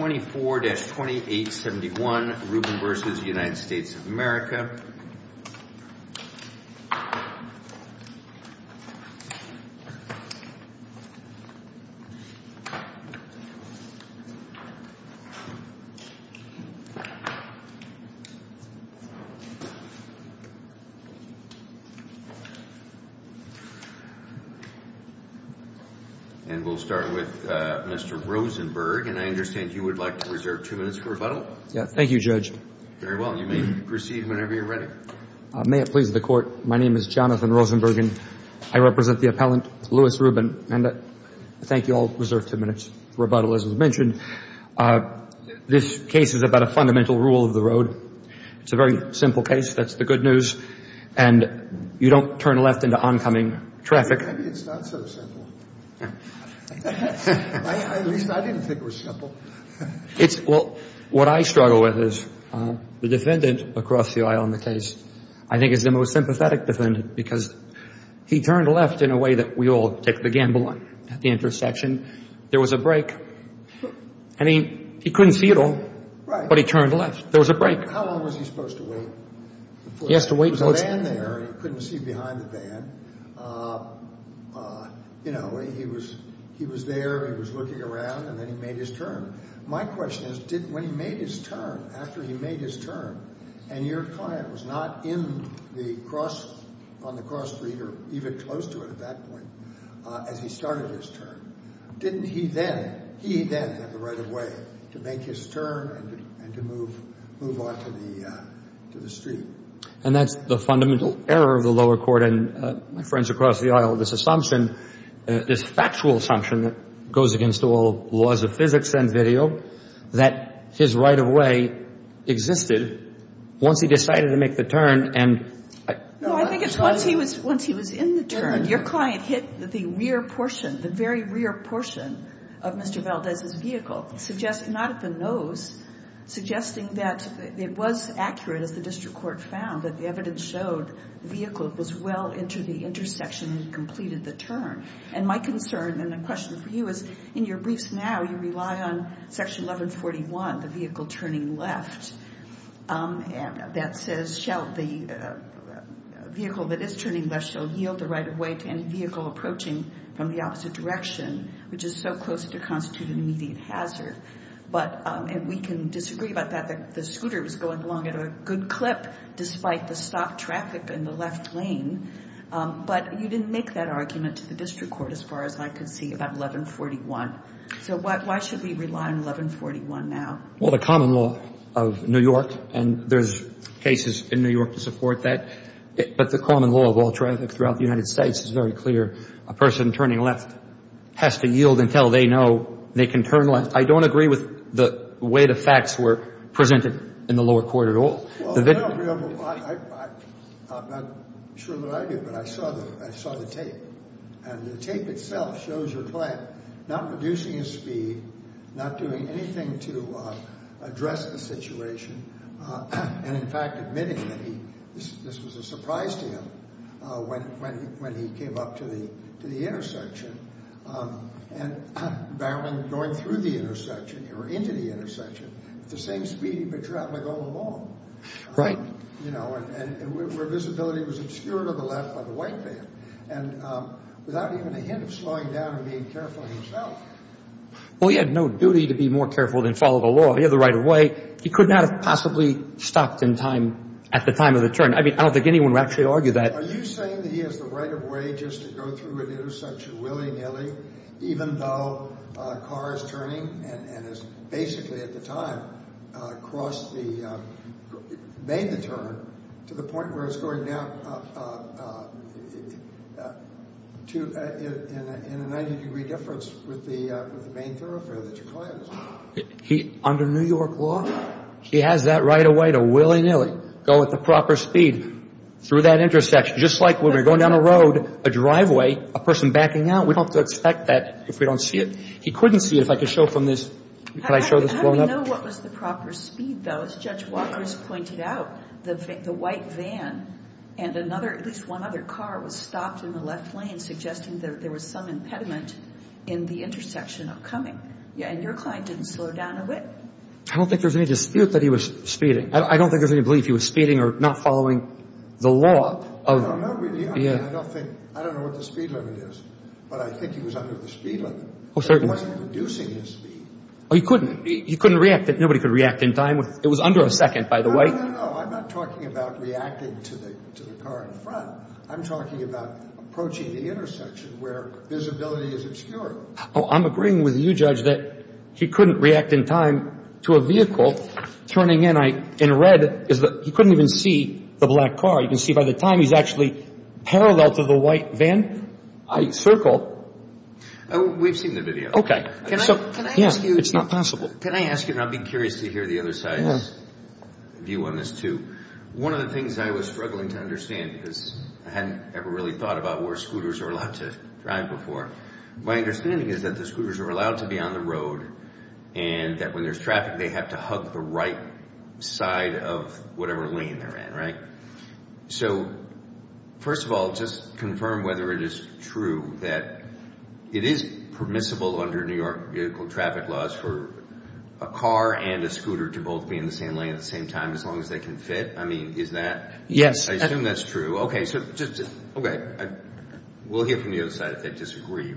24-2871, Rubin v. United States of America. And we'll start with Mr. Rosenberg, and I understand you would like to reserve two minutes for rebuttal? Yes. Thank you, Judge. Very well. You may proceed whenever you're ready. May it please the Court. My name is Jonathan Rosenberg, and I represent the appellant, Louis Rubin. And I thank you all to reserve two minutes for rebuttal, as was mentioned. This case is about a fundamental rule of the road. It's a very simple case. That's the good news. And you don't turn left into oncoming traffic. Maybe it's not so simple. At least, I didn't think it was simple. Well, what I struggle with is, I don't think it's so simple. I don't think it's so simple. The defendant across the aisle in the case, I think, is the most sympathetic defendant, because he turned left in a way that we all take the gamble on. At the intersection, there was a break. And he couldn't see it all. Right. But he turned left. There was a break. How long was he supposed to wait? He has to wait until it's... There was a van there, and he couldn't see behind the van. You know, he was there, he was looking around, and then he made his turn. My question is, when he made his turn, after he made his turn, and your client was not on the cross street or even close to it at that point, as he started his turn, didn't he then, he then, have the right of way to make his turn and to move on to the street? And that's the fundamental error of the lower court. And my friends across the aisle, this assumption, this factual assumption that goes against all laws of physics and video, that his right of way existed once he decided to make the turn and... No, I think it's once he was in the turn, your client hit the rear portion, the very rear portion of Mr. Valdez's vehicle, not at the nose, suggesting that it was accurate, as the district court found, that the evidence showed the vehicle was well into the intersection and completed the turn. And my concern and the question for you is, in your briefs now, you rely on Section 1141, the vehicle turning left, that says, shall the vehicle that is turning left shall yield the right of way to any vehicle approaching from the opposite direction, which is so close to constitute an immediate hazard. But we can disagree about that. The scooter was going along at a good clip, despite the stopped traffic in the left lane. But you didn't make that argument to the district court, as far as I could see, about 1141. So why should we rely on 1141 now? Well, the common law of New York, and there's cases in New York to support that, but the common law of all traffic throughout the United States is very clear. A person turning left has to yield until they know they can turn left. I don't agree with the way the facts were presented in the lower court at all. I'm not sure that I did, but I saw the tape. And the tape itself shows your client not reducing his speed, not doing anything to address the situation, and, in fact, admitting that this was a surprise to him when he came up to the intersection and barreling going through the intersection or into the intersection at the same speed he'd been traveling all along. You know, and where visibility was obscured on the left by the white van, and without even a hint of slowing down or being careful of himself. Well, he had no duty to be more careful than follow the law. He had the right of way. He could not have possibly stopped in time at the time of the turn. I mean, I don't think anyone would actually argue that. Are you saying that he has the right of way just to go through an intersection willy-nilly, even though a car is turning and has basically, at the time, made the turn to the point where it's going down in a 90-degree difference with the main thoroughfare that your client was driving? Under New York law, he has that right of way to willy-nilly go at the proper speed through that intersection, just like when we're going down a road, a driveway, a person backing out. We don't have to expect that if we don't see it. He couldn't see it. If I could show from this. Can I show this blown up? How do we know what was the proper speed, though? As Judge Walker has pointed out, the white van and another, at least one other car, was stopped in the left lane, suggesting that there was some impediment in the intersection upcoming. And your client didn't slow down a bit. I don't think there's any dispute that he was speeding. I don't think there's any belief he was speeding or not following the law. I don't know what the speed limit is, but I think he was under the speed limit. He wasn't reducing his speed. He couldn't react. Nobody could react in time. It was under a second, by the way. No, no, no. I'm not talking about reacting to the car in front. I'm talking about approaching the intersection where visibility is obscured. I'm agreeing with you, Judge, that he couldn't react in time to a vehicle turning in. In red, you couldn't even see the black car. You can see by the time he's actually parallel to the white van, I circle. We've seen the video. Okay. Can I ask you? Yeah, it's not possible. Can I ask you, and I'll be curious to hear the other side's view on this, too. One of the things I was struggling to understand, because I hadn't ever really thought about where scooters are allowed to drive before, my understanding is that the scooters are allowed to be on the road and that when there's traffic, they have to hug the right side of whatever lane they're in, right? So, first of all, just confirm whether it is true that it is permissible under New York vehicle traffic laws for a car and a scooter to both be in the same lane at the same time as long as they can fit. I mean, is that? Yes. I assume that's true. Okay. We'll hear from the other side if they disagree.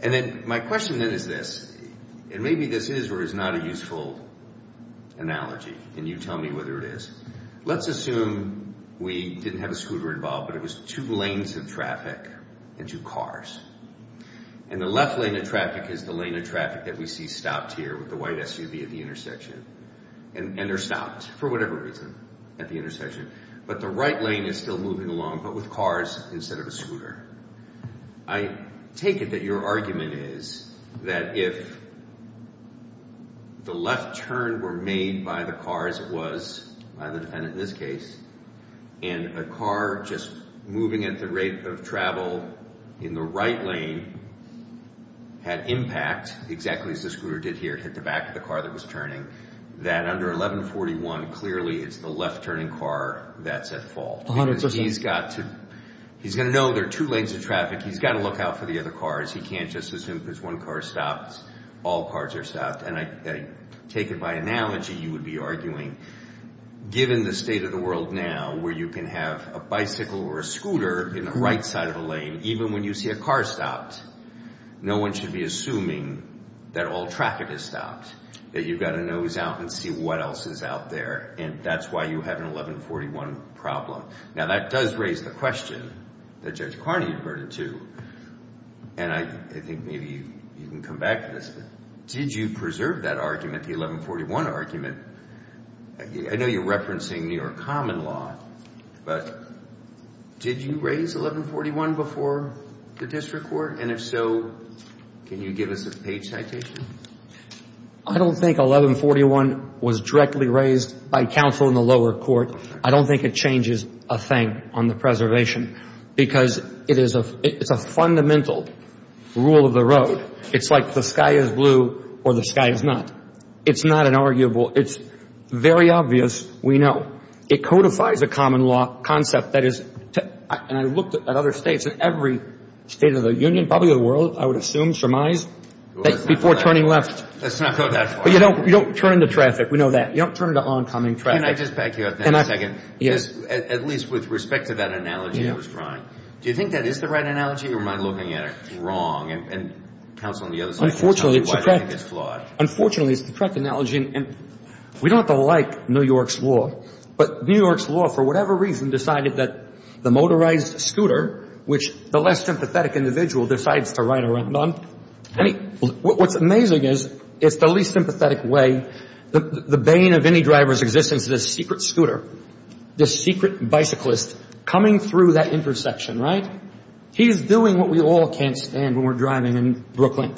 And then my question then is this, and maybe this is or is not a useful analogy, and you tell me whether it is. Let's assume we didn't have a scooter involved, but it was two lanes of traffic and two cars. And the left lane of traffic is the lane of traffic that we see stopped here with the white SUV at the intersection. And they're stopped for whatever reason at the intersection. But the right lane is still moving along, but with cars instead of a scooter. I take it that your argument is that if the left turn were made by the car, as it was by the defendant in this case, and a car just moving at the rate of travel in the right lane had impact, exactly as the scooter did here, hit the back of the car that was turning, that under 1141 clearly it's the left-turning car that's at fault. 100%. He's going to know there are two lanes of traffic. He's got to look out for the other cars. He can't just assume if there's one car stopped, all cars are stopped. And I take it by analogy, you would be arguing given the state of the world now where you can have a bicycle or a scooter in the right side of the lane, even when you see a car stopped, no one should be assuming that all traffic is stopped, that you've got to nose out and see what else is out there. And that's why you have an 1141 problem. Now, that does raise the question that Judge Carney referred to, and I think maybe you can come back to this. Did you preserve that argument, the 1141 argument? I know you're referencing New York common law, but did you raise 1141 before the district court? And if so, can you give us a page citation? I don't think 1141 was directly raised by counsel in the lower court. I don't think it changes a thing on the preservation because it is a fundamental rule of the road. It's like the sky is blue or the sky is not. It's not an arguable. It's very obvious. We know. It codifies a common law concept that is, and I've looked at other states, at every state of the union, probably the world, I would assume, surmise, before turning left. Let's not go that far. But you don't turn into traffic. We know that. You don't turn into oncoming traffic. Can I just back you up for a second? Yes. At least with respect to that analogy I was drawing. Do you think that is the right analogy or am I looking at it wrong? And counsel on the other side can tell me why I think it's flawed. Unfortunately, it's a correct analogy. We don't have to like New York's law, but New York's law, for whatever reason, decided that the motorized scooter, which the less sympathetic individual decides to ride around on, what's amazing is it's the least sympathetic way. The bane of any driver's existence is a secret scooter, this secret bicyclist coming through that intersection, right? He's doing what we all can't stand when we're driving in Brooklyn.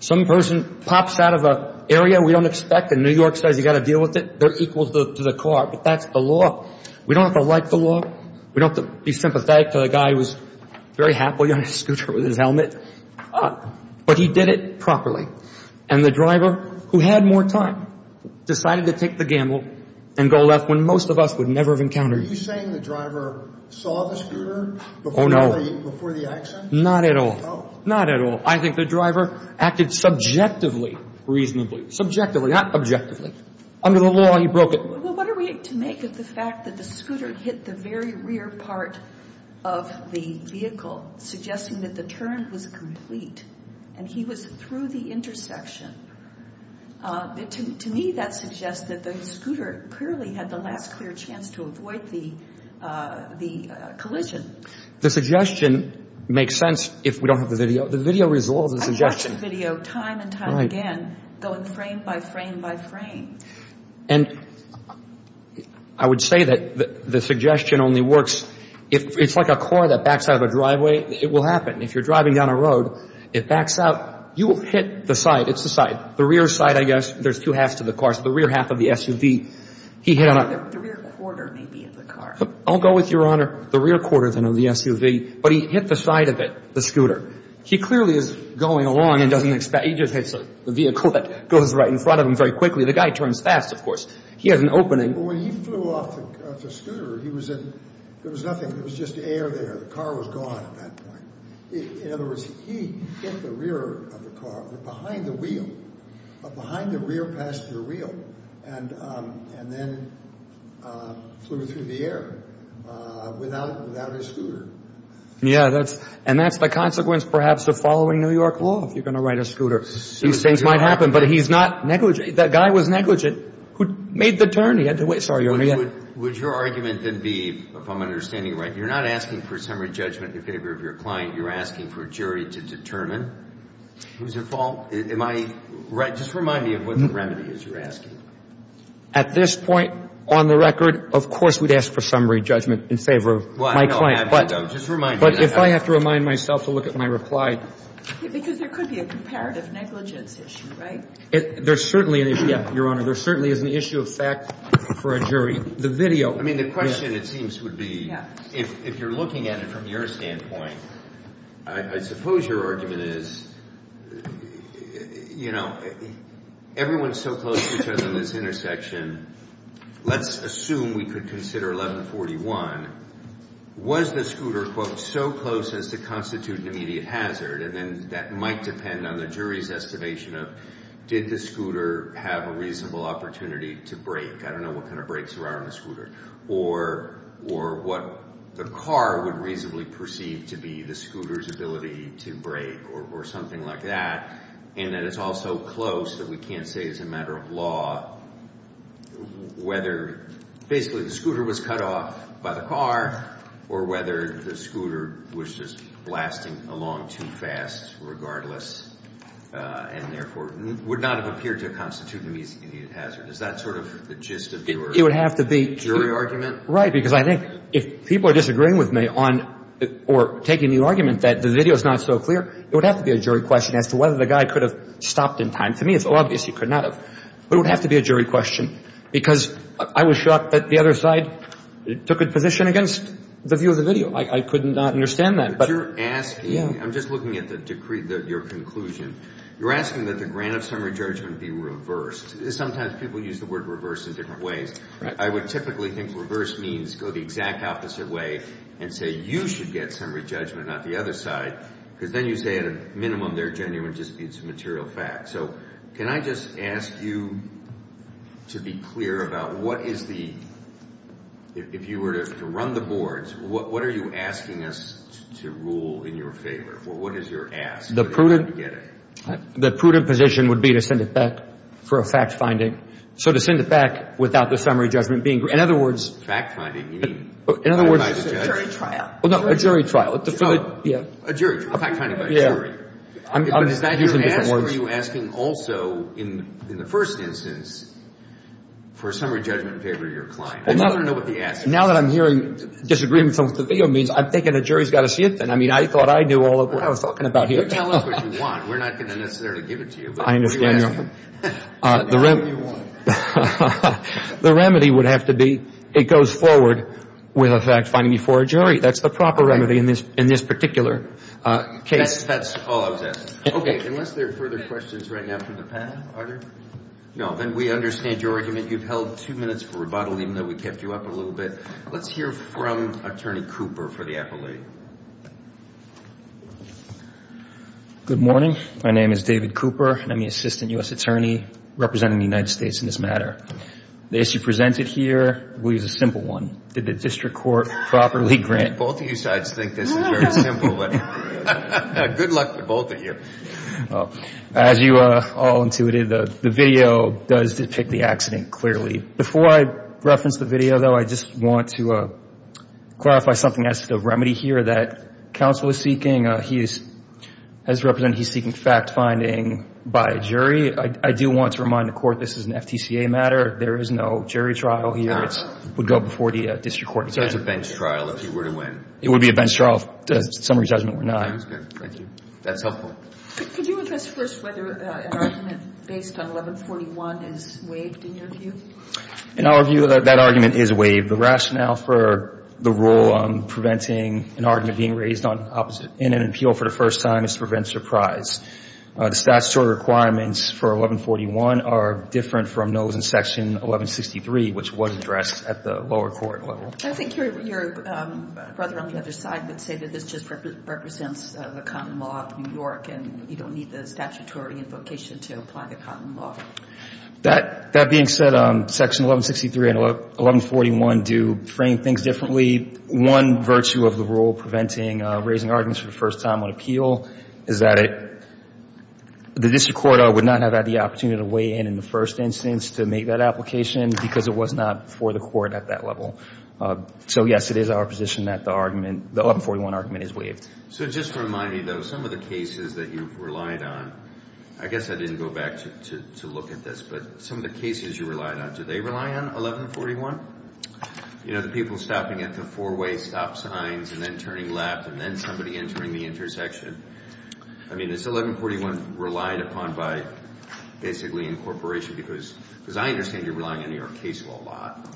Some person pops out of an area we don't expect and New York says you've got to deal with it. They're equal to the car. But that's the law. We don't have to like the law. We don't have to be sympathetic to the guy who was very happily on his scooter with his helmet. But he did it properly. And the driver, who had more time, decided to take the gamble and go left when most of us would never have encountered it. Are you saying the driver saw the scooter before the action? Not at all. Not at all. I think the driver acted subjectively reasonably. Subjectively, not objectively. Under the law, he broke it. Well, what are we to make of the fact that the scooter hit the very rear part of the vehicle, suggesting that the turn was complete and he was through the intersection? To me, that suggests that the scooter clearly had the last clear chance to avoid the collision. The suggestion makes sense if we don't have the video. The video resolves the suggestion. I watched the video time and time again, going frame by frame by frame. And I would say that the suggestion only works if it's like a car that backs out of a driveway. It will happen. If you're driving down a road, it backs out. You will hit the side. It's the side. The rear side, I guess. There's two halves to the car. So the rear half of the SUV, he hit on it. The rear quarter maybe of the car. I'll go with Your Honor. The rear quarter then of the SUV. But he hit the side of it, the scooter. He clearly is going along and doesn't expect. He just hits the vehicle that goes right in front of him very quickly. The guy turns fast, of course. He has an opening. But when he flew off the scooter, there was nothing. There was just air there. The car was gone at that point. In other words, he hit the rear of the car, behind the wheel, behind the rear passenger wheel, and then flew through the air without his scooter. Yeah, and that's the consequence perhaps of following New York law if you're going to ride a scooter. These things might happen. But he's not negligent. That guy was negligent who made the turn. He had to wait. Sorry, Your Honor. Would your argument then be, if I'm understanding right, you're not asking for summary judgment in favor of your client. You're asking for a jury to determine. It was a fault. Am I right? Just remind me of what the remedy is you're asking. At this point on the record, of course, we'd ask for summary judgment in favor of my client. But if I have to remind myself to look at my reply. Because there could be a comparative negligence issue, right? There certainly is, Your Honor. There certainly is an issue of fact for a jury. The video. I mean, the question, it seems, would be, if you're looking at it from your standpoint, I suppose your argument is, you know, everyone is so close to each other in this intersection. Let's assume we could consider 1141. Was the scooter, quote, so close as to constitute an immediate hazard? And then that might depend on the jury's estimation of, did the scooter have a reasonable opportunity to brake? I don't know what kind of brakes there are on the scooter. Or what the car would reasonably perceive to be the scooter's ability to brake or something like that. And that it's all so close that we can't say as a matter of law whether, basically, the scooter was cut off by the car or whether the scooter was just blasting along too fast regardless and, therefore, would not have appeared to constitute an immediate hazard. Is that sort of the gist of your jury argument? Right. Because I think if people are disagreeing with me or taking the argument that the video is not so clear, it would have to be a jury question as to whether the guy could have stopped in time. To me, it's obvious he could not have. But it would have to be a jury question because I was shocked that the other side took a position against the view of the video. I could not understand that. But you're asking, I'm just looking at the decree, your conclusion. You're asking that the grant of summary judgment be reversed. Sometimes people use the word reverse in different ways. I would typically think reverse means go the exact opposite way and say you should get summary judgment, not the other side, because then you say, at a minimum, they're genuine disputes of material facts. So can I just ask you to be clear about what is the, if you were to run the boards, what are you asking us to rule in your favor? What is your ask? The prudent position would be to send it back for a fact-finding. So to send it back without the summary judgment being, in other words. Fact-finding, you mean? In other words. It's a jury trial. No, a jury trial. A jury trial, a fact-finding by a jury. I'm using different words. What are you asking also in the first instance for a summary judgment in favor of your client? I just want to know what the answer is. Now that I'm hearing disagreement from the video means I'm thinking the jury's got to see it then. I mean, I thought I knew all of what I was talking about here. You can tell us what you want. We're not going to necessarily give it to you. I understand. But what are you asking? The remedy would have to be it goes forward with a fact-finding before a jury. That's the proper remedy in this particular case. That's all I was asking. Okay. Unless there are further questions right now from the panel, are there? No. Then we understand your argument. You've held two minutes for rebuttal, even though we kept you up a little bit. Let's hear from Attorney Cooper for the appellate. Good morning. My name is David Cooper, and I'm the Assistant U.S. Attorney representing the United States in this matter. The issue presented here is a simple one. Did the district court properly grant? Both of you guys think this is very simple, but good luck to both of you. As you all intuited, the video does depict the accident clearly. Before I reference the video, though, I just want to clarify something as to the remedy here that counsel is seeking. He has represented he's seeking fact-finding by a jury. I do want to remind the court this is an FTCA matter. There is no jury trial here. It would go before the district court. It's a bench trial if you were to win. It would be a bench trial if the summary judgment were not. That's good. Thank you. That's helpful. Could you address first whether an argument based on 1141 is waived in your view? In our view, that argument is waived. The rationale for the rule preventing an argument being raised in an appeal for the first time is to prevent surprise. The statutory requirements for 1141 are different from those in Section 1163, which was addressed at the lower court level. I think your brother on the other side would say that this just represents the common law of New York and you don't need the statutory invocation to apply the common law. That being said, Section 1163 and 1141 do frame things differently. One virtue of the rule preventing raising arguments for the first time on appeal is that the district court would not have had the opportunity to weigh in in the first instance to make that application because it was not for the court at that level. So, yes, it is our position that the 1141 argument is waived. So just to remind me, though, some of the cases that you've relied on, I guess I didn't go back to look at this, but some of the cases you relied on, do they rely on 1141? You know, the people stopping at the four-way stop signs and then turning left and then somebody entering the intersection. I mean, is 1141 relied upon by basically incorporation? Because I understand you're relying on New York case law a lot.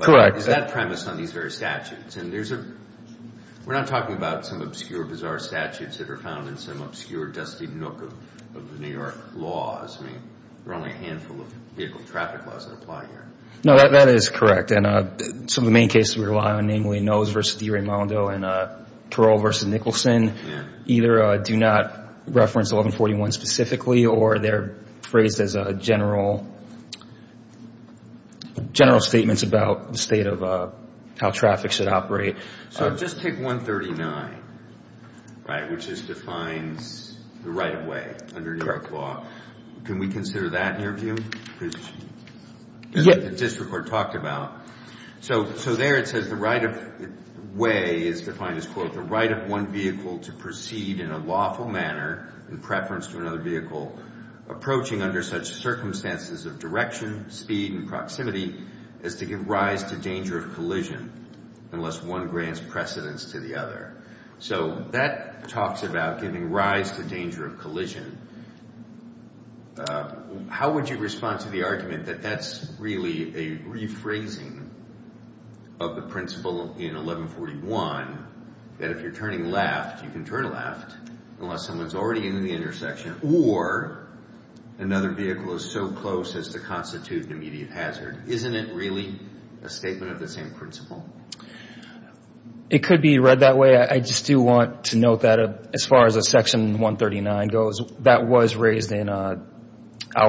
Correct. Is that premise on these various statutes? And we're not talking about some obscure, bizarre statutes that are found in some obscure, dusty nook of New York laws. I mean, there are only a handful of vehicle traffic laws that apply here. No, that is correct. And some of the main cases we rely on, namely Nose v. DiRamondo and Parole v. Nicholson, either do not reference 1141 specifically or they're phrased as general statements about the state of how traffic should operate. So just take 139, right, which just defines the right-of-way under New York law. Can we consider that in your view, which the district court talked about? So there it says the right-of-way is defined as, quote, the right of one vehicle to proceed in a lawful manner in preference to another vehicle approaching under such circumstances of direction, speed, and proximity as to give rise to danger of collision unless one grants precedence to the other. So that talks about giving rise to danger of collision. How would you respond to the argument that that's really a rephrasing of the principle in 1141 that if you're turning left, you can turn left unless someone's already in the intersection or another vehicle is so close as to constitute an immediate hazard? Isn't it really a statement of the same principle? It could be read that way. I just do want to note that as far as Section 139 goes, that was raised in our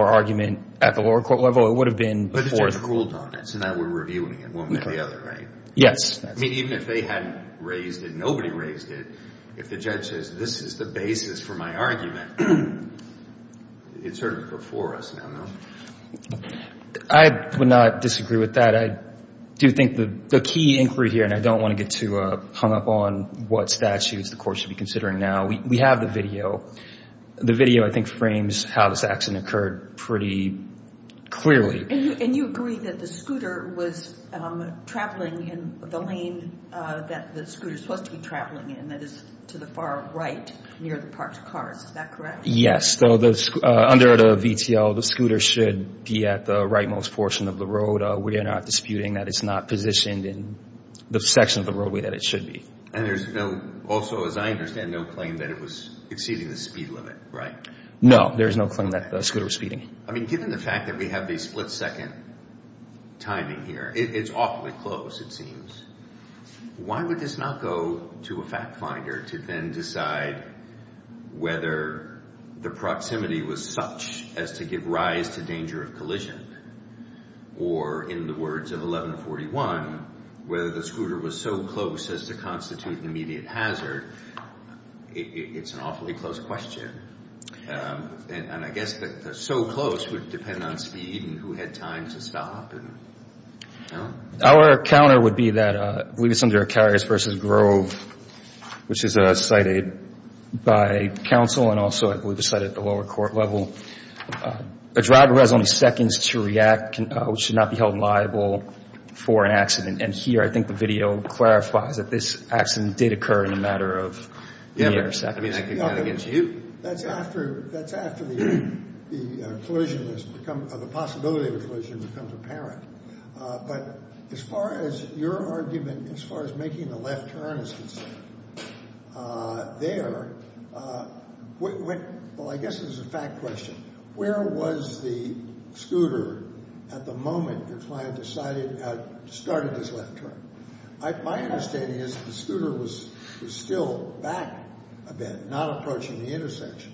argument at the lower court level. It would have been before the court level. But the district ruled on it, so now we're reviewing it one way or the other, right? Yes. I mean, even if they hadn't raised it and nobody raised it, if the judge says this is the basis for my argument, it's sort of before us now, no? I would not disagree with that. I do think the key inquiry here, and I don't want to get too hung up on what statutes the court should be considering now. We have the video. The video, I think, frames how this accident occurred pretty clearly. And you agree that the scooter was traveling in the lane that the scooter is supposed to be traveling in, that is to the far right near the parked cars. Is that correct? Yes. Under the VTL, the scooter should be at the rightmost portion of the road. We are not disputing that it's not positioned in the section of the roadway that it should be. And there's also, as I understand, no claim that it was exceeding the speed limit, right? No, there's no claim that the scooter was speeding. I mean, given the fact that we have the split-second timing here, it's awfully close, it seems. Why would this not go to a fact finder to then decide whether the proximity was such as to give rise to danger of collision or, in the words of 1141, whether the scooter was so close as to constitute an immediate hazard? It's an awfully close question. And I guess that the so close would depend on speed and who had time to stop and, you know. Our counter would be that, I believe it's under Carriers v. Grove, which is cited by counsel and also, I believe, is cited at the lower court level. A driver has only seconds to react, which should not be held liable for an accident. And here, I think the video clarifies that this accident did occur in a matter of mere seconds. That's after the collision has become, the possibility of a collision becomes apparent. But as far as your argument, as far as making the left turn is concerned, there, well, I guess this is a fact question. Where was the scooter at the moment your client decided, started this left turn? My understanding is the scooter was still back a bit, not approaching the intersection.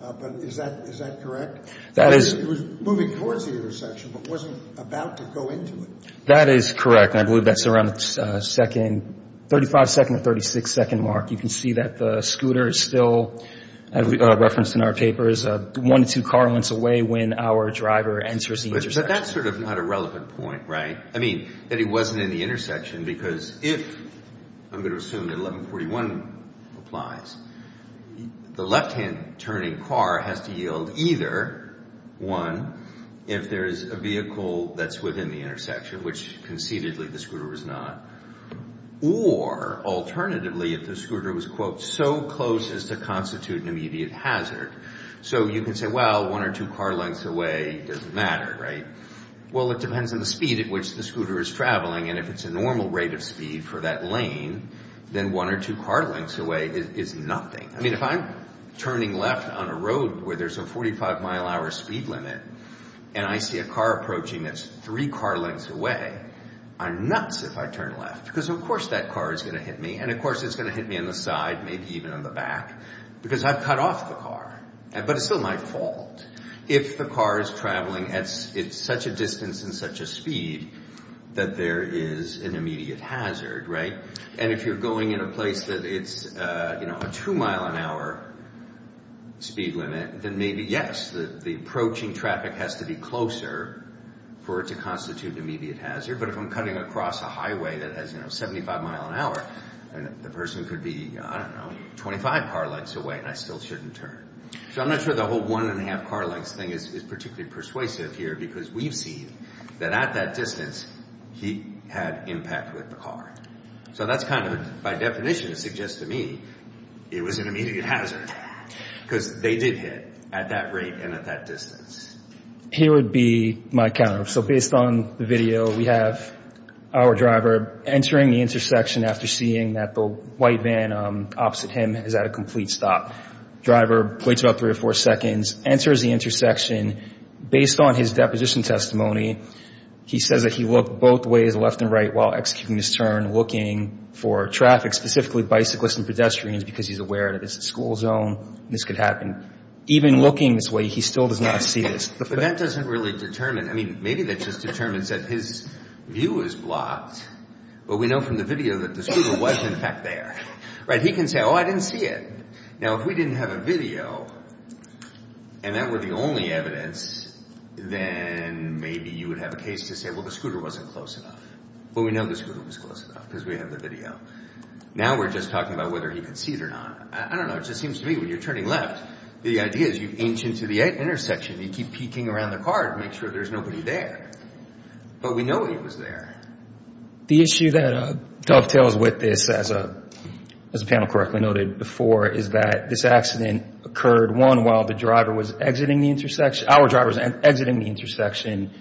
But is that correct? It was moving towards the intersection but wasn't about to go into it. That is correct. And I believe that's around the second, 35-second or 36-second mark. You can see that the scooter is still, as we referenced in our papers, one to two car lengths away when our driver enters the intersection. But that's sort of not a relevant point, right? I mean, that he wasn't in the intersection because if, I'm going to assume that 1141 applies, the left-hand turning car has to yield either, one, if there is a vehicle that's within the intersection, which concededly the scooter was not, or alternatively if the scooter was, quote, so close as to constitute an immediate hazard. So you can say, well, one or two car lengths away doesn't matter, right? Well, it depends on the speed at which the scooter is traveling. And if it's a normal rate of speed for that lane, then one or two car lengths away is nothing. I mean, if I'm turning left on a road where there's a 45-mile-hour speed limit and I see a car approaching that's three car lengths away, I'm nuts if I turn left. Because, of course, that car is going to hit me. And, of course, it's going to hit me on the side, maybe even on the back, because I've cut off the car. But it's still my fault. If the car is traveling at such a distance and such a speed that there is an immediate hazard, right? And if you're going in a place that it's a two-mile-an-hour speed limit, then maybe, yes, the approaching traffic has to be closer for it to constitute an immediate hazard. But if I'm cutting across a highway that has 75-mile-an-hour, the person could be, I don't know, 25 car lengths away and I still shouldn't turn. So I'm not sure the whole one-and-a-half car lengths thing is particularly persuasive here because we've seen that at that distance, he had impact with the car. So that's kind of, by definition, it suggests to me it was an immediate hazard. Because they did hit at that rate and at that distance. Here would be my counter. So based on the video, we have our driver entering the intersection after seeing that the white van opposite him is at a complete stop. Driver waits about three or four seconds, enters the intersection. Based on his deposition testimony, he says that he looked both ways, left and right, while executing his turn looking for traffic, specifically bicyclists and pedestrians, because he's aware that it's a school zone and this could happen. Even looking this way, he still does not see this. But that doesn't really determine. I mean, maybe that just determines that his view is blocked. But we know from the video that the scooter was, in fact, there. Right? He can say, oh, I didn't see it. Now, if we didn't have a video and that were the only evidence, then maybe you would have a case to say, well, the scooter wasn't close enough. But we know the scooter was close enough because we have the video. Now we're just talking about whether he could see it or not. I don't know. It just seems to me when you're turning left, the idea is you inch into the intersection. You keep peeking around the car to make sure there's nobody there. But we know he was there. The issue that dovetails with this, as the panel correctly noted before, is that this accident occurred, one, while the driver was exiting the intersection, our driver was exiting the intersection,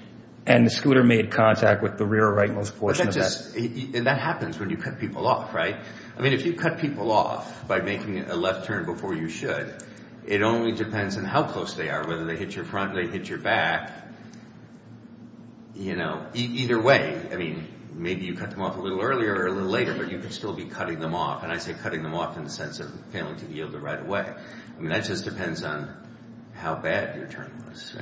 and the scooter made contact with the rear rightmost portion of that. And that happens when you cut people off. Right? I mean, if you cut people off by making a left turn before you should, it only depends on how close they are, whether they hit your front or they hit your back. You know, either way. I mean, maybe you cut them off a little earlier or a little later, but you could still be cutting them off. And I say cutting them off in the sense of failing to yield them right away. I mean, that just depends on how bad your turn was.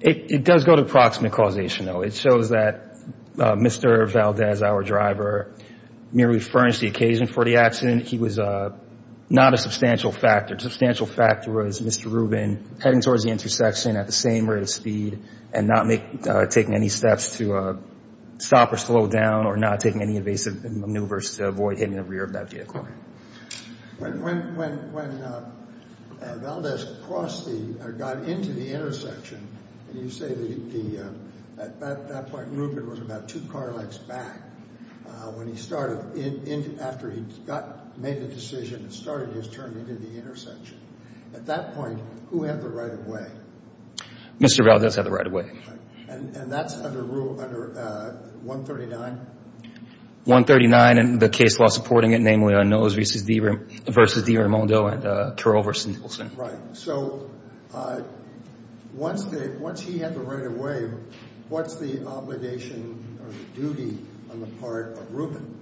It does go to proximate causation, though. It shows that Mr. Valdez, our driver, merely furnished the occasion for the accident. He was not a substantial factor. A substantial factor was Mr. Rubin heading towards the intersection at the same rate of speed and not taking any steps to stop or slow down or not taking any evasive maneuvers to avoid hitting the rear of that vehicle. Okay. When Valdez got into the intersection, and you say that at that point Rubin was about two car lengths back, when he started, after he made the decision and started his turn into the intersection, at that point, who had the right of way? Mr. Valdez had the right of way. And that's under Rule 139? 139 and the case law supporting it, namely on Nose v. DiRamondo and Carroll v. Nicholson. Right. So once he had the right of way, what's the obligation or the duty on the part of Rubin?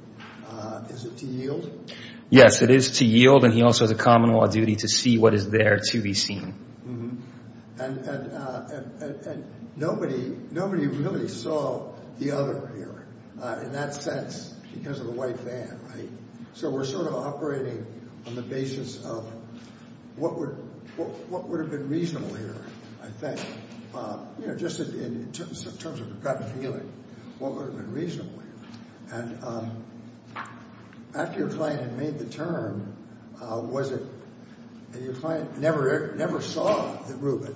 Is it to yield? Yes, it is to yield, and he also has a common law duty to see what is there to be seen. And nobody really saw the other here in that sense because of the white van, right? So we're sort of operating on the basis of what would have been reasonable here, I think, just in terms of the gut feeling, what would have been reasonable here. And after your client had made the turn, was it – and your client never saw Rubin,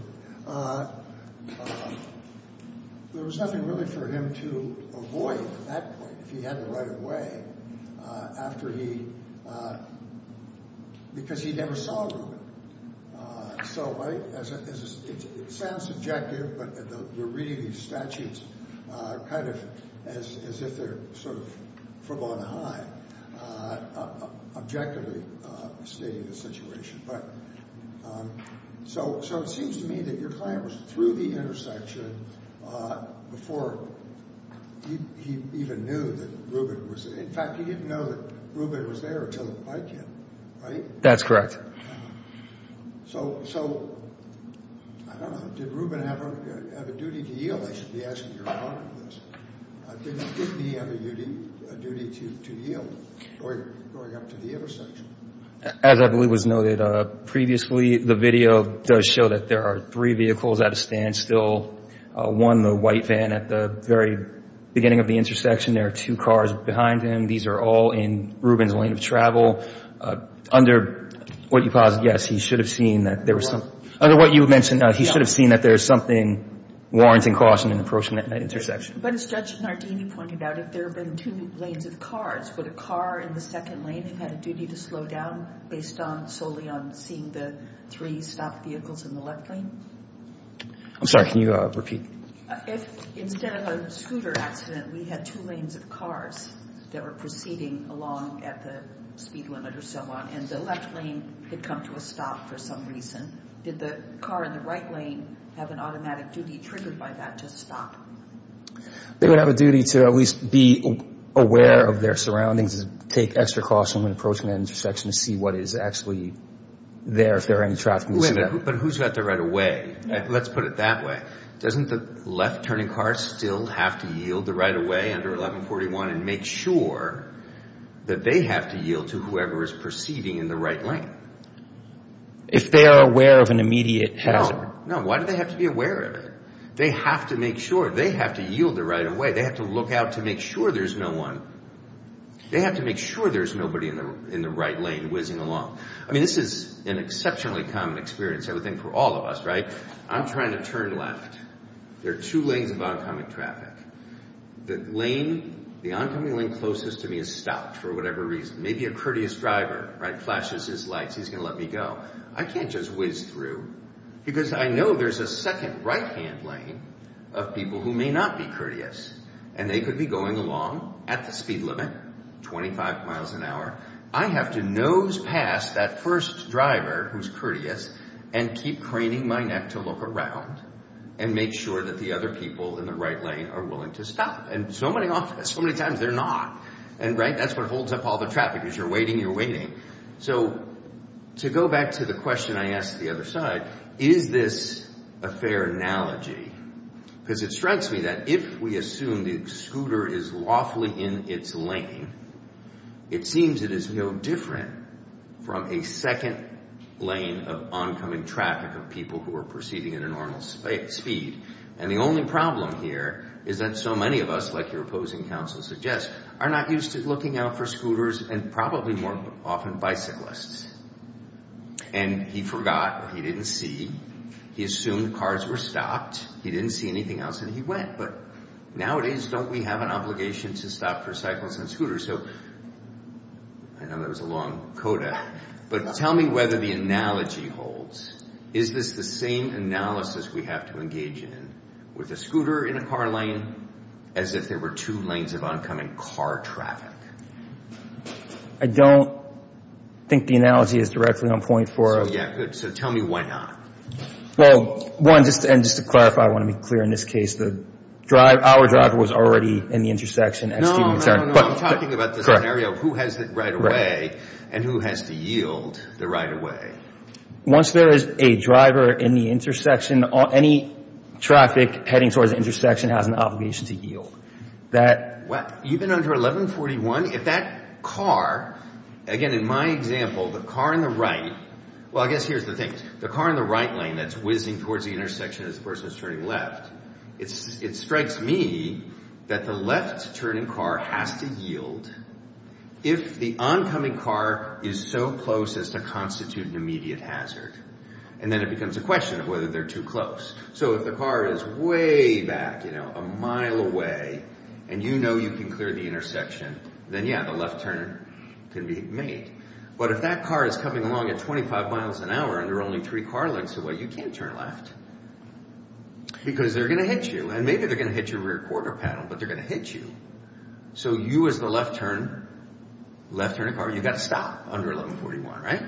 there was nothing really for him to avoid at that point if he had the right of way after he – because he never saw Rubin. So it sounds subjective, but we're reading these statutes kind of as if they're sort of from on high, objectively stating the situation. But so it seems to me that your client was through the intersection before he even knew that Rubin was – in fact, he didn't know that Rubin was there until the bike hit, right? That's correct. So, I don't know, did Rubin have a duty to yield? I should be asking your honor this. Didn't he have a duty to yield going up to the intersection? As I believe was noted previously, the video does show that there are three vehicles at a standstill. One, the white van at the very beginning of the intersection. There are two cars behind him. These are all in Rubin's lane of travel. Under what you posit, yes, he should have seen that there was some – under what you mentioned, he should have seen that there is something warranting caution in approaching that intersection. But as Judge Nardini pointed out, if there have been two lanes of cars, would a car in the second lane have had a duty to slow down based solely on seeing the three stopped vehicles in the left lane? I'm sorry, can you repeat? If instead of a scooter accident, we had two lanes of cars that were proceeding along at the speed limit or so on, and the left lane had come to a stop for some reason, did the car in the right lane have an automatic duty triggered by that to stop? They would have a duty to at least be aware of their surroundings, take extra caution when approaching that intersection to see what is actually there, if there are any traffic conditions. Wait a minute, but who's got the right of way? Let's put it that way. Doesn't the left-turning car still have to yield the right of way under 1141 and make sure that they have to yield to whoever is proceeding in the right lane? If they are aware of an immediate hazard. No, no, why do they have to be aware of it? They have to make sure. They have to yield the right of way. They have to look out to make sure there's no one. They have to make sure there's nobody in the right lane whizzing along. I mean, this is an exceptionally common experience I would think for all of us, right? I'm trying to turn left. There are two lanes of oncoming traffic. The lane, the oncoming lane closest to me is stopped for whatever reason. Maybe a courteous driver, right, flashes his lights. He's going to let me go. I can't just whiz through because I know there's a second right-hand lane of people who may not be courteous, and they could be going along at the speed limit, 25 miles an hour. I have to nose past that first driver who's courteous and keep craning my neck to look around and make sure that the other people in the right lane are willing to stop. And so many times they're not. And, right, that's what holds up all the traffic is you're waiting, you're waiting. So to go back to the question I asked the other side, is this a fair analogy? Because it strikes me that if we assume the scooter is lawfully in its lane, it seems it is no different from a second lane of oncoming traffic of people who are proceeding at a normal speed. And the only problem here is that so many of us, like your opposing counsel suggests, are not used to looking out for scooters and probably more often bicyclists. And he forgot or he didn't see. He assumed cars were stopped. He didn't see anything else, and he went. But nowadays, don't we have an obligation to stop for cyclists and scooters? So I know that was a long coda, but tell me whether the analogy holds. Is this the same analysis we have to engage in with a scooter in a car lane as if there were two lanes of oncoming car traffic? I don't think the analogy is directly on point for us. So, yeah, good. So tell me why not. Well, one, and just to clarify, I want to be clear in this case, our driver was already in the intersection. No, no, no, I'm talking about the scenario of who has the right of way and who has to yield the right of way. Once there is a driver in the intersection, any traffic heading towards the intersection has an obligation to yield. Even under 1141, if that car, again, in my example, the car in the right, well, I guess here's the thing, the car in the right lane that's whizzing towards the intersection as the person is turning left, it strikes me that the left-turning car has to yield if the oncoming car is so close as to constitute an immediate hazard. And then it becomes a question of whether they're too close. So if the car is way back, you know, a mile away, and you know you can clear the intersection, then, yeah, the left turn can be made. But if that car is coming along at 25 miles an hour and there are only three car lengths away, you can't turn left because they're going to hit you. And maybe they're going to hit your rear quarter panel, but they're going to hit you. So you as the left-turning car, you've got to stop under 1141, right?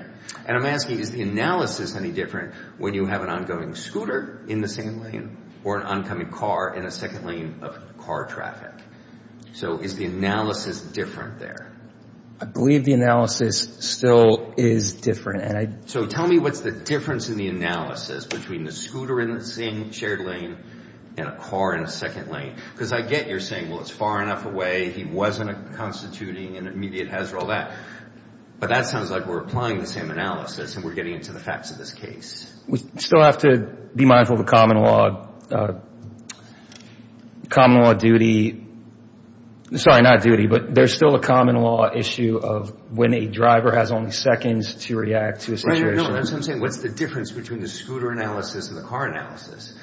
And I'm asking, is the analysis any different when you have an ongoing scooter in the same lane or an oncoming car in a second lane of car traffic? So is the analysis different there? I believe the analysis still is different. So tell me what's the difference in the analysis between the scooter in the same shared lane and a car in a second lane, because I get you're saying, well, it's far enough away, he wasn't constituting an immediate hazard, all that. But that sounds like we're applying the same analysis and we're getting into the facts of this case. We still have to be mindful of the common law duty. Sorry, not duty, but there's still a common law issue of when a driver has only seconds to react to a situation. No, that's what I'm saying. What's the difference between the scooter analysis and the car analysis?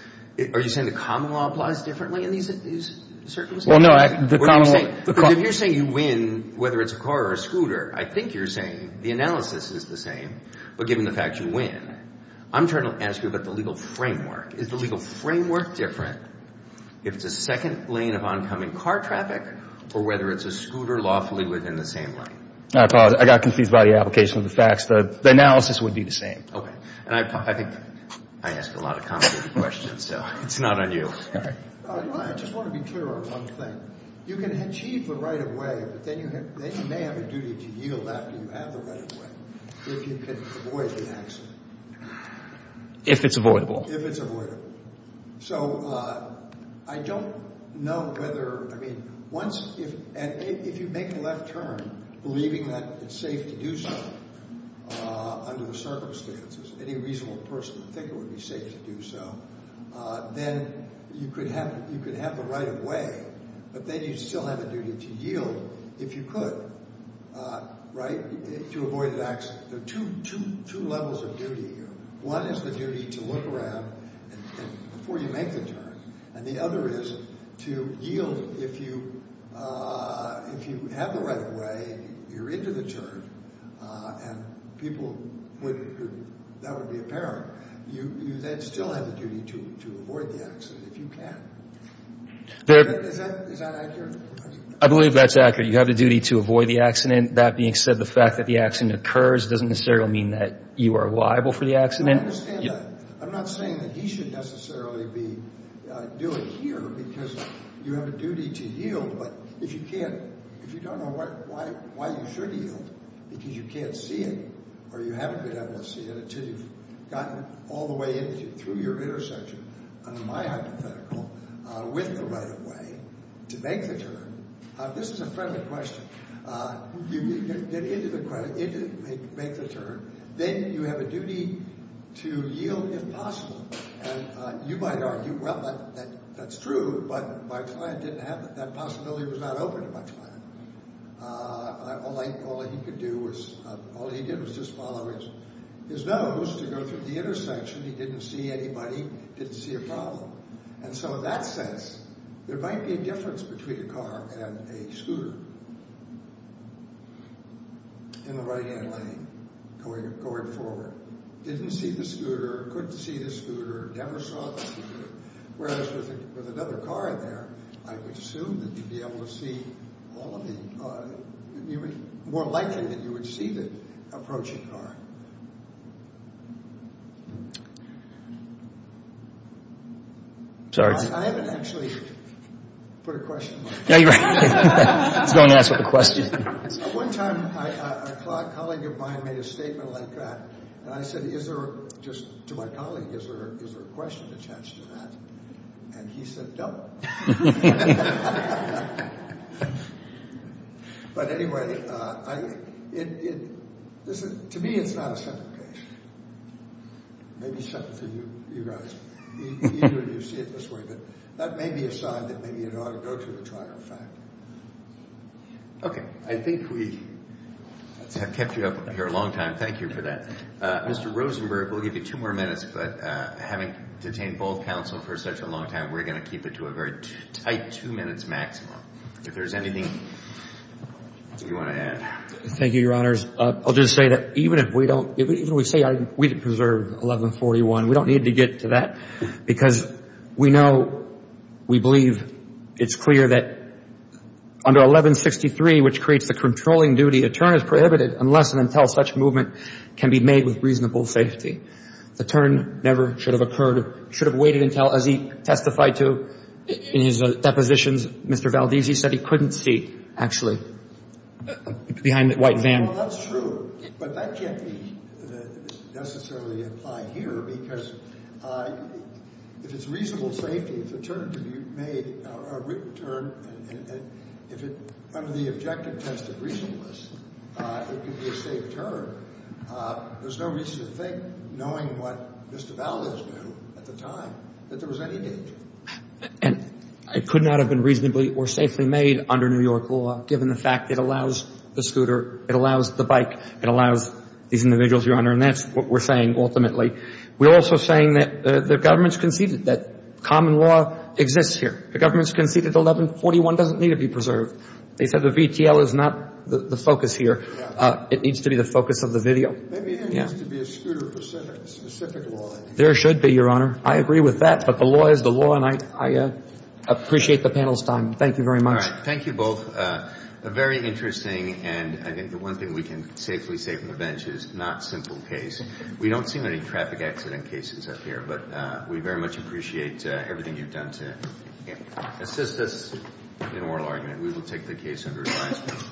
Are you saying the common law applies differently in these circumstances? Well, no. If you're saying you win whether it's a car or a scooter, I think you're saying the analysis is the same. But given the fact you win, I'm trying to ask you about the legal framework. Is the legal framework different if it's a second lane of oncoming car traffic or whether it's a scooter lawfully within the same lane? I apologize. I got confused by the application of the facts. The analysis would be the same. Okay. And I think I asked a lot of complicated questions, so it's not on you. I just want to be clear on one thing. You can achieve the right-of-way, but then you may have a duty to yield after you have the right-of-way if you can avoid the accident. If it's avoidable. If it's avoidable. So I don't know whether, I mean, once if you make a left turn, believing that it's safe to do so under the circumstances, any reasonable person would think it would be safe to do so, then you could have the right-of-way, but then you'd still have a duty to yield if you could, right, to avoid an accident. There are two levels of duty here. One is the duty to look around before you make the turn, and the other is to yield if you have the right-of-way, you're into the turn, and people would, that would be apparent. You still have the duty to avoid the accident if you can. Is that accurate? I believe that's accurate. You have the duty to avoid the accident. That being said, the fact that the accident occurs doesn't necessarily mean that you are liable for the accident. I understand that. I'm not saying that he should necessarily be doing here because you have a duty to yield, but if you can't, if you don't know why you should yield, because you can't see it or you haven't been able to see it until you've gotten all the way into it, through your intersection, under my hypothetical, with the right-of-way to make the turn, this is a friendly question. You get into the turn, then you have a duty to yield if possible, and you might argue, well, that's true, but my client didn't have it. That possibility was not open to my client. All he could do was, all he did was just follow his nose to go through the intersection. He didn't see anybody, didn't see a problem, and so in that sense, there might be a difference between a car and a scooter in the right-hand lane going forward. A car didn't see the scooter, couldn't see the scooter, never saw the scooter, whereas with another car there, I would assume that you'd be able to see all of the cars. It would be more likely that you would see the approaching car. I haven't actually put a question. He's going to ask a question. One time a colleague of mine made a statement like that, and I said to my colleague, is there a question attached to that, and he said, no. But anyway, to me it's not a separate case. Maybe it's something for you guys. Either of you see it this way, but that may be a sign that maybe it ought to go to the trial, in fact. Okay. I think we have kept you up here a long time. Thank you for that. Mr. Rosenberg, we'll give you two more minutes, but having detained both counsel for such a long time, we're going to keep it to a very tight two minutes maximum. If there's anything you want to add. Thank you, Your Honors. I'll just say that even if we say we didn't preserve 1141, we don't need to get to that because we know, we believe it's clear that under 1163, which creates the controlling duty, a turn is prohibited unless and until such movement can be made with reasonable safety. The turn never should have occurred, should have waited until, as he testified to in his depositions, Mr. Valdezzi said he couldn't see, actually, behind the white van. Well, that's true, but that can't necessarily apply here because if it's reasonable safety, it's a turn to be made, a written turn, and if it, under the objective test of reasonableness, it could be a safe turn. There's no reason to think, knowing what Mr. Valdez knew at the time, that there was any danger. And it could not have been reasonably or safely made under New York law, given the fact it allows the scooter, it allows the bike, it allows these individuals, Your Honor, and that's what we're saying ultimately. We're also saying that the government's conceded that common law exists here. The government's conceded 1141 doesn't need to be preserved. They said the VTL is not the focus here. It needs to be the focus of the video. Maybe there needs to be a scooter-specific law. There should be, Your Honor. I agree with that, but the law is the law, and I appreciate the panel's time. Thank you very much. All right, thank you both. Very interesting, and I think the one thing we can safely say from the bench is not simple case. We don't see many traffic accident cases up here, but we very much appreciate everything you've done to assist us in oral argument. We will take the case under advisement.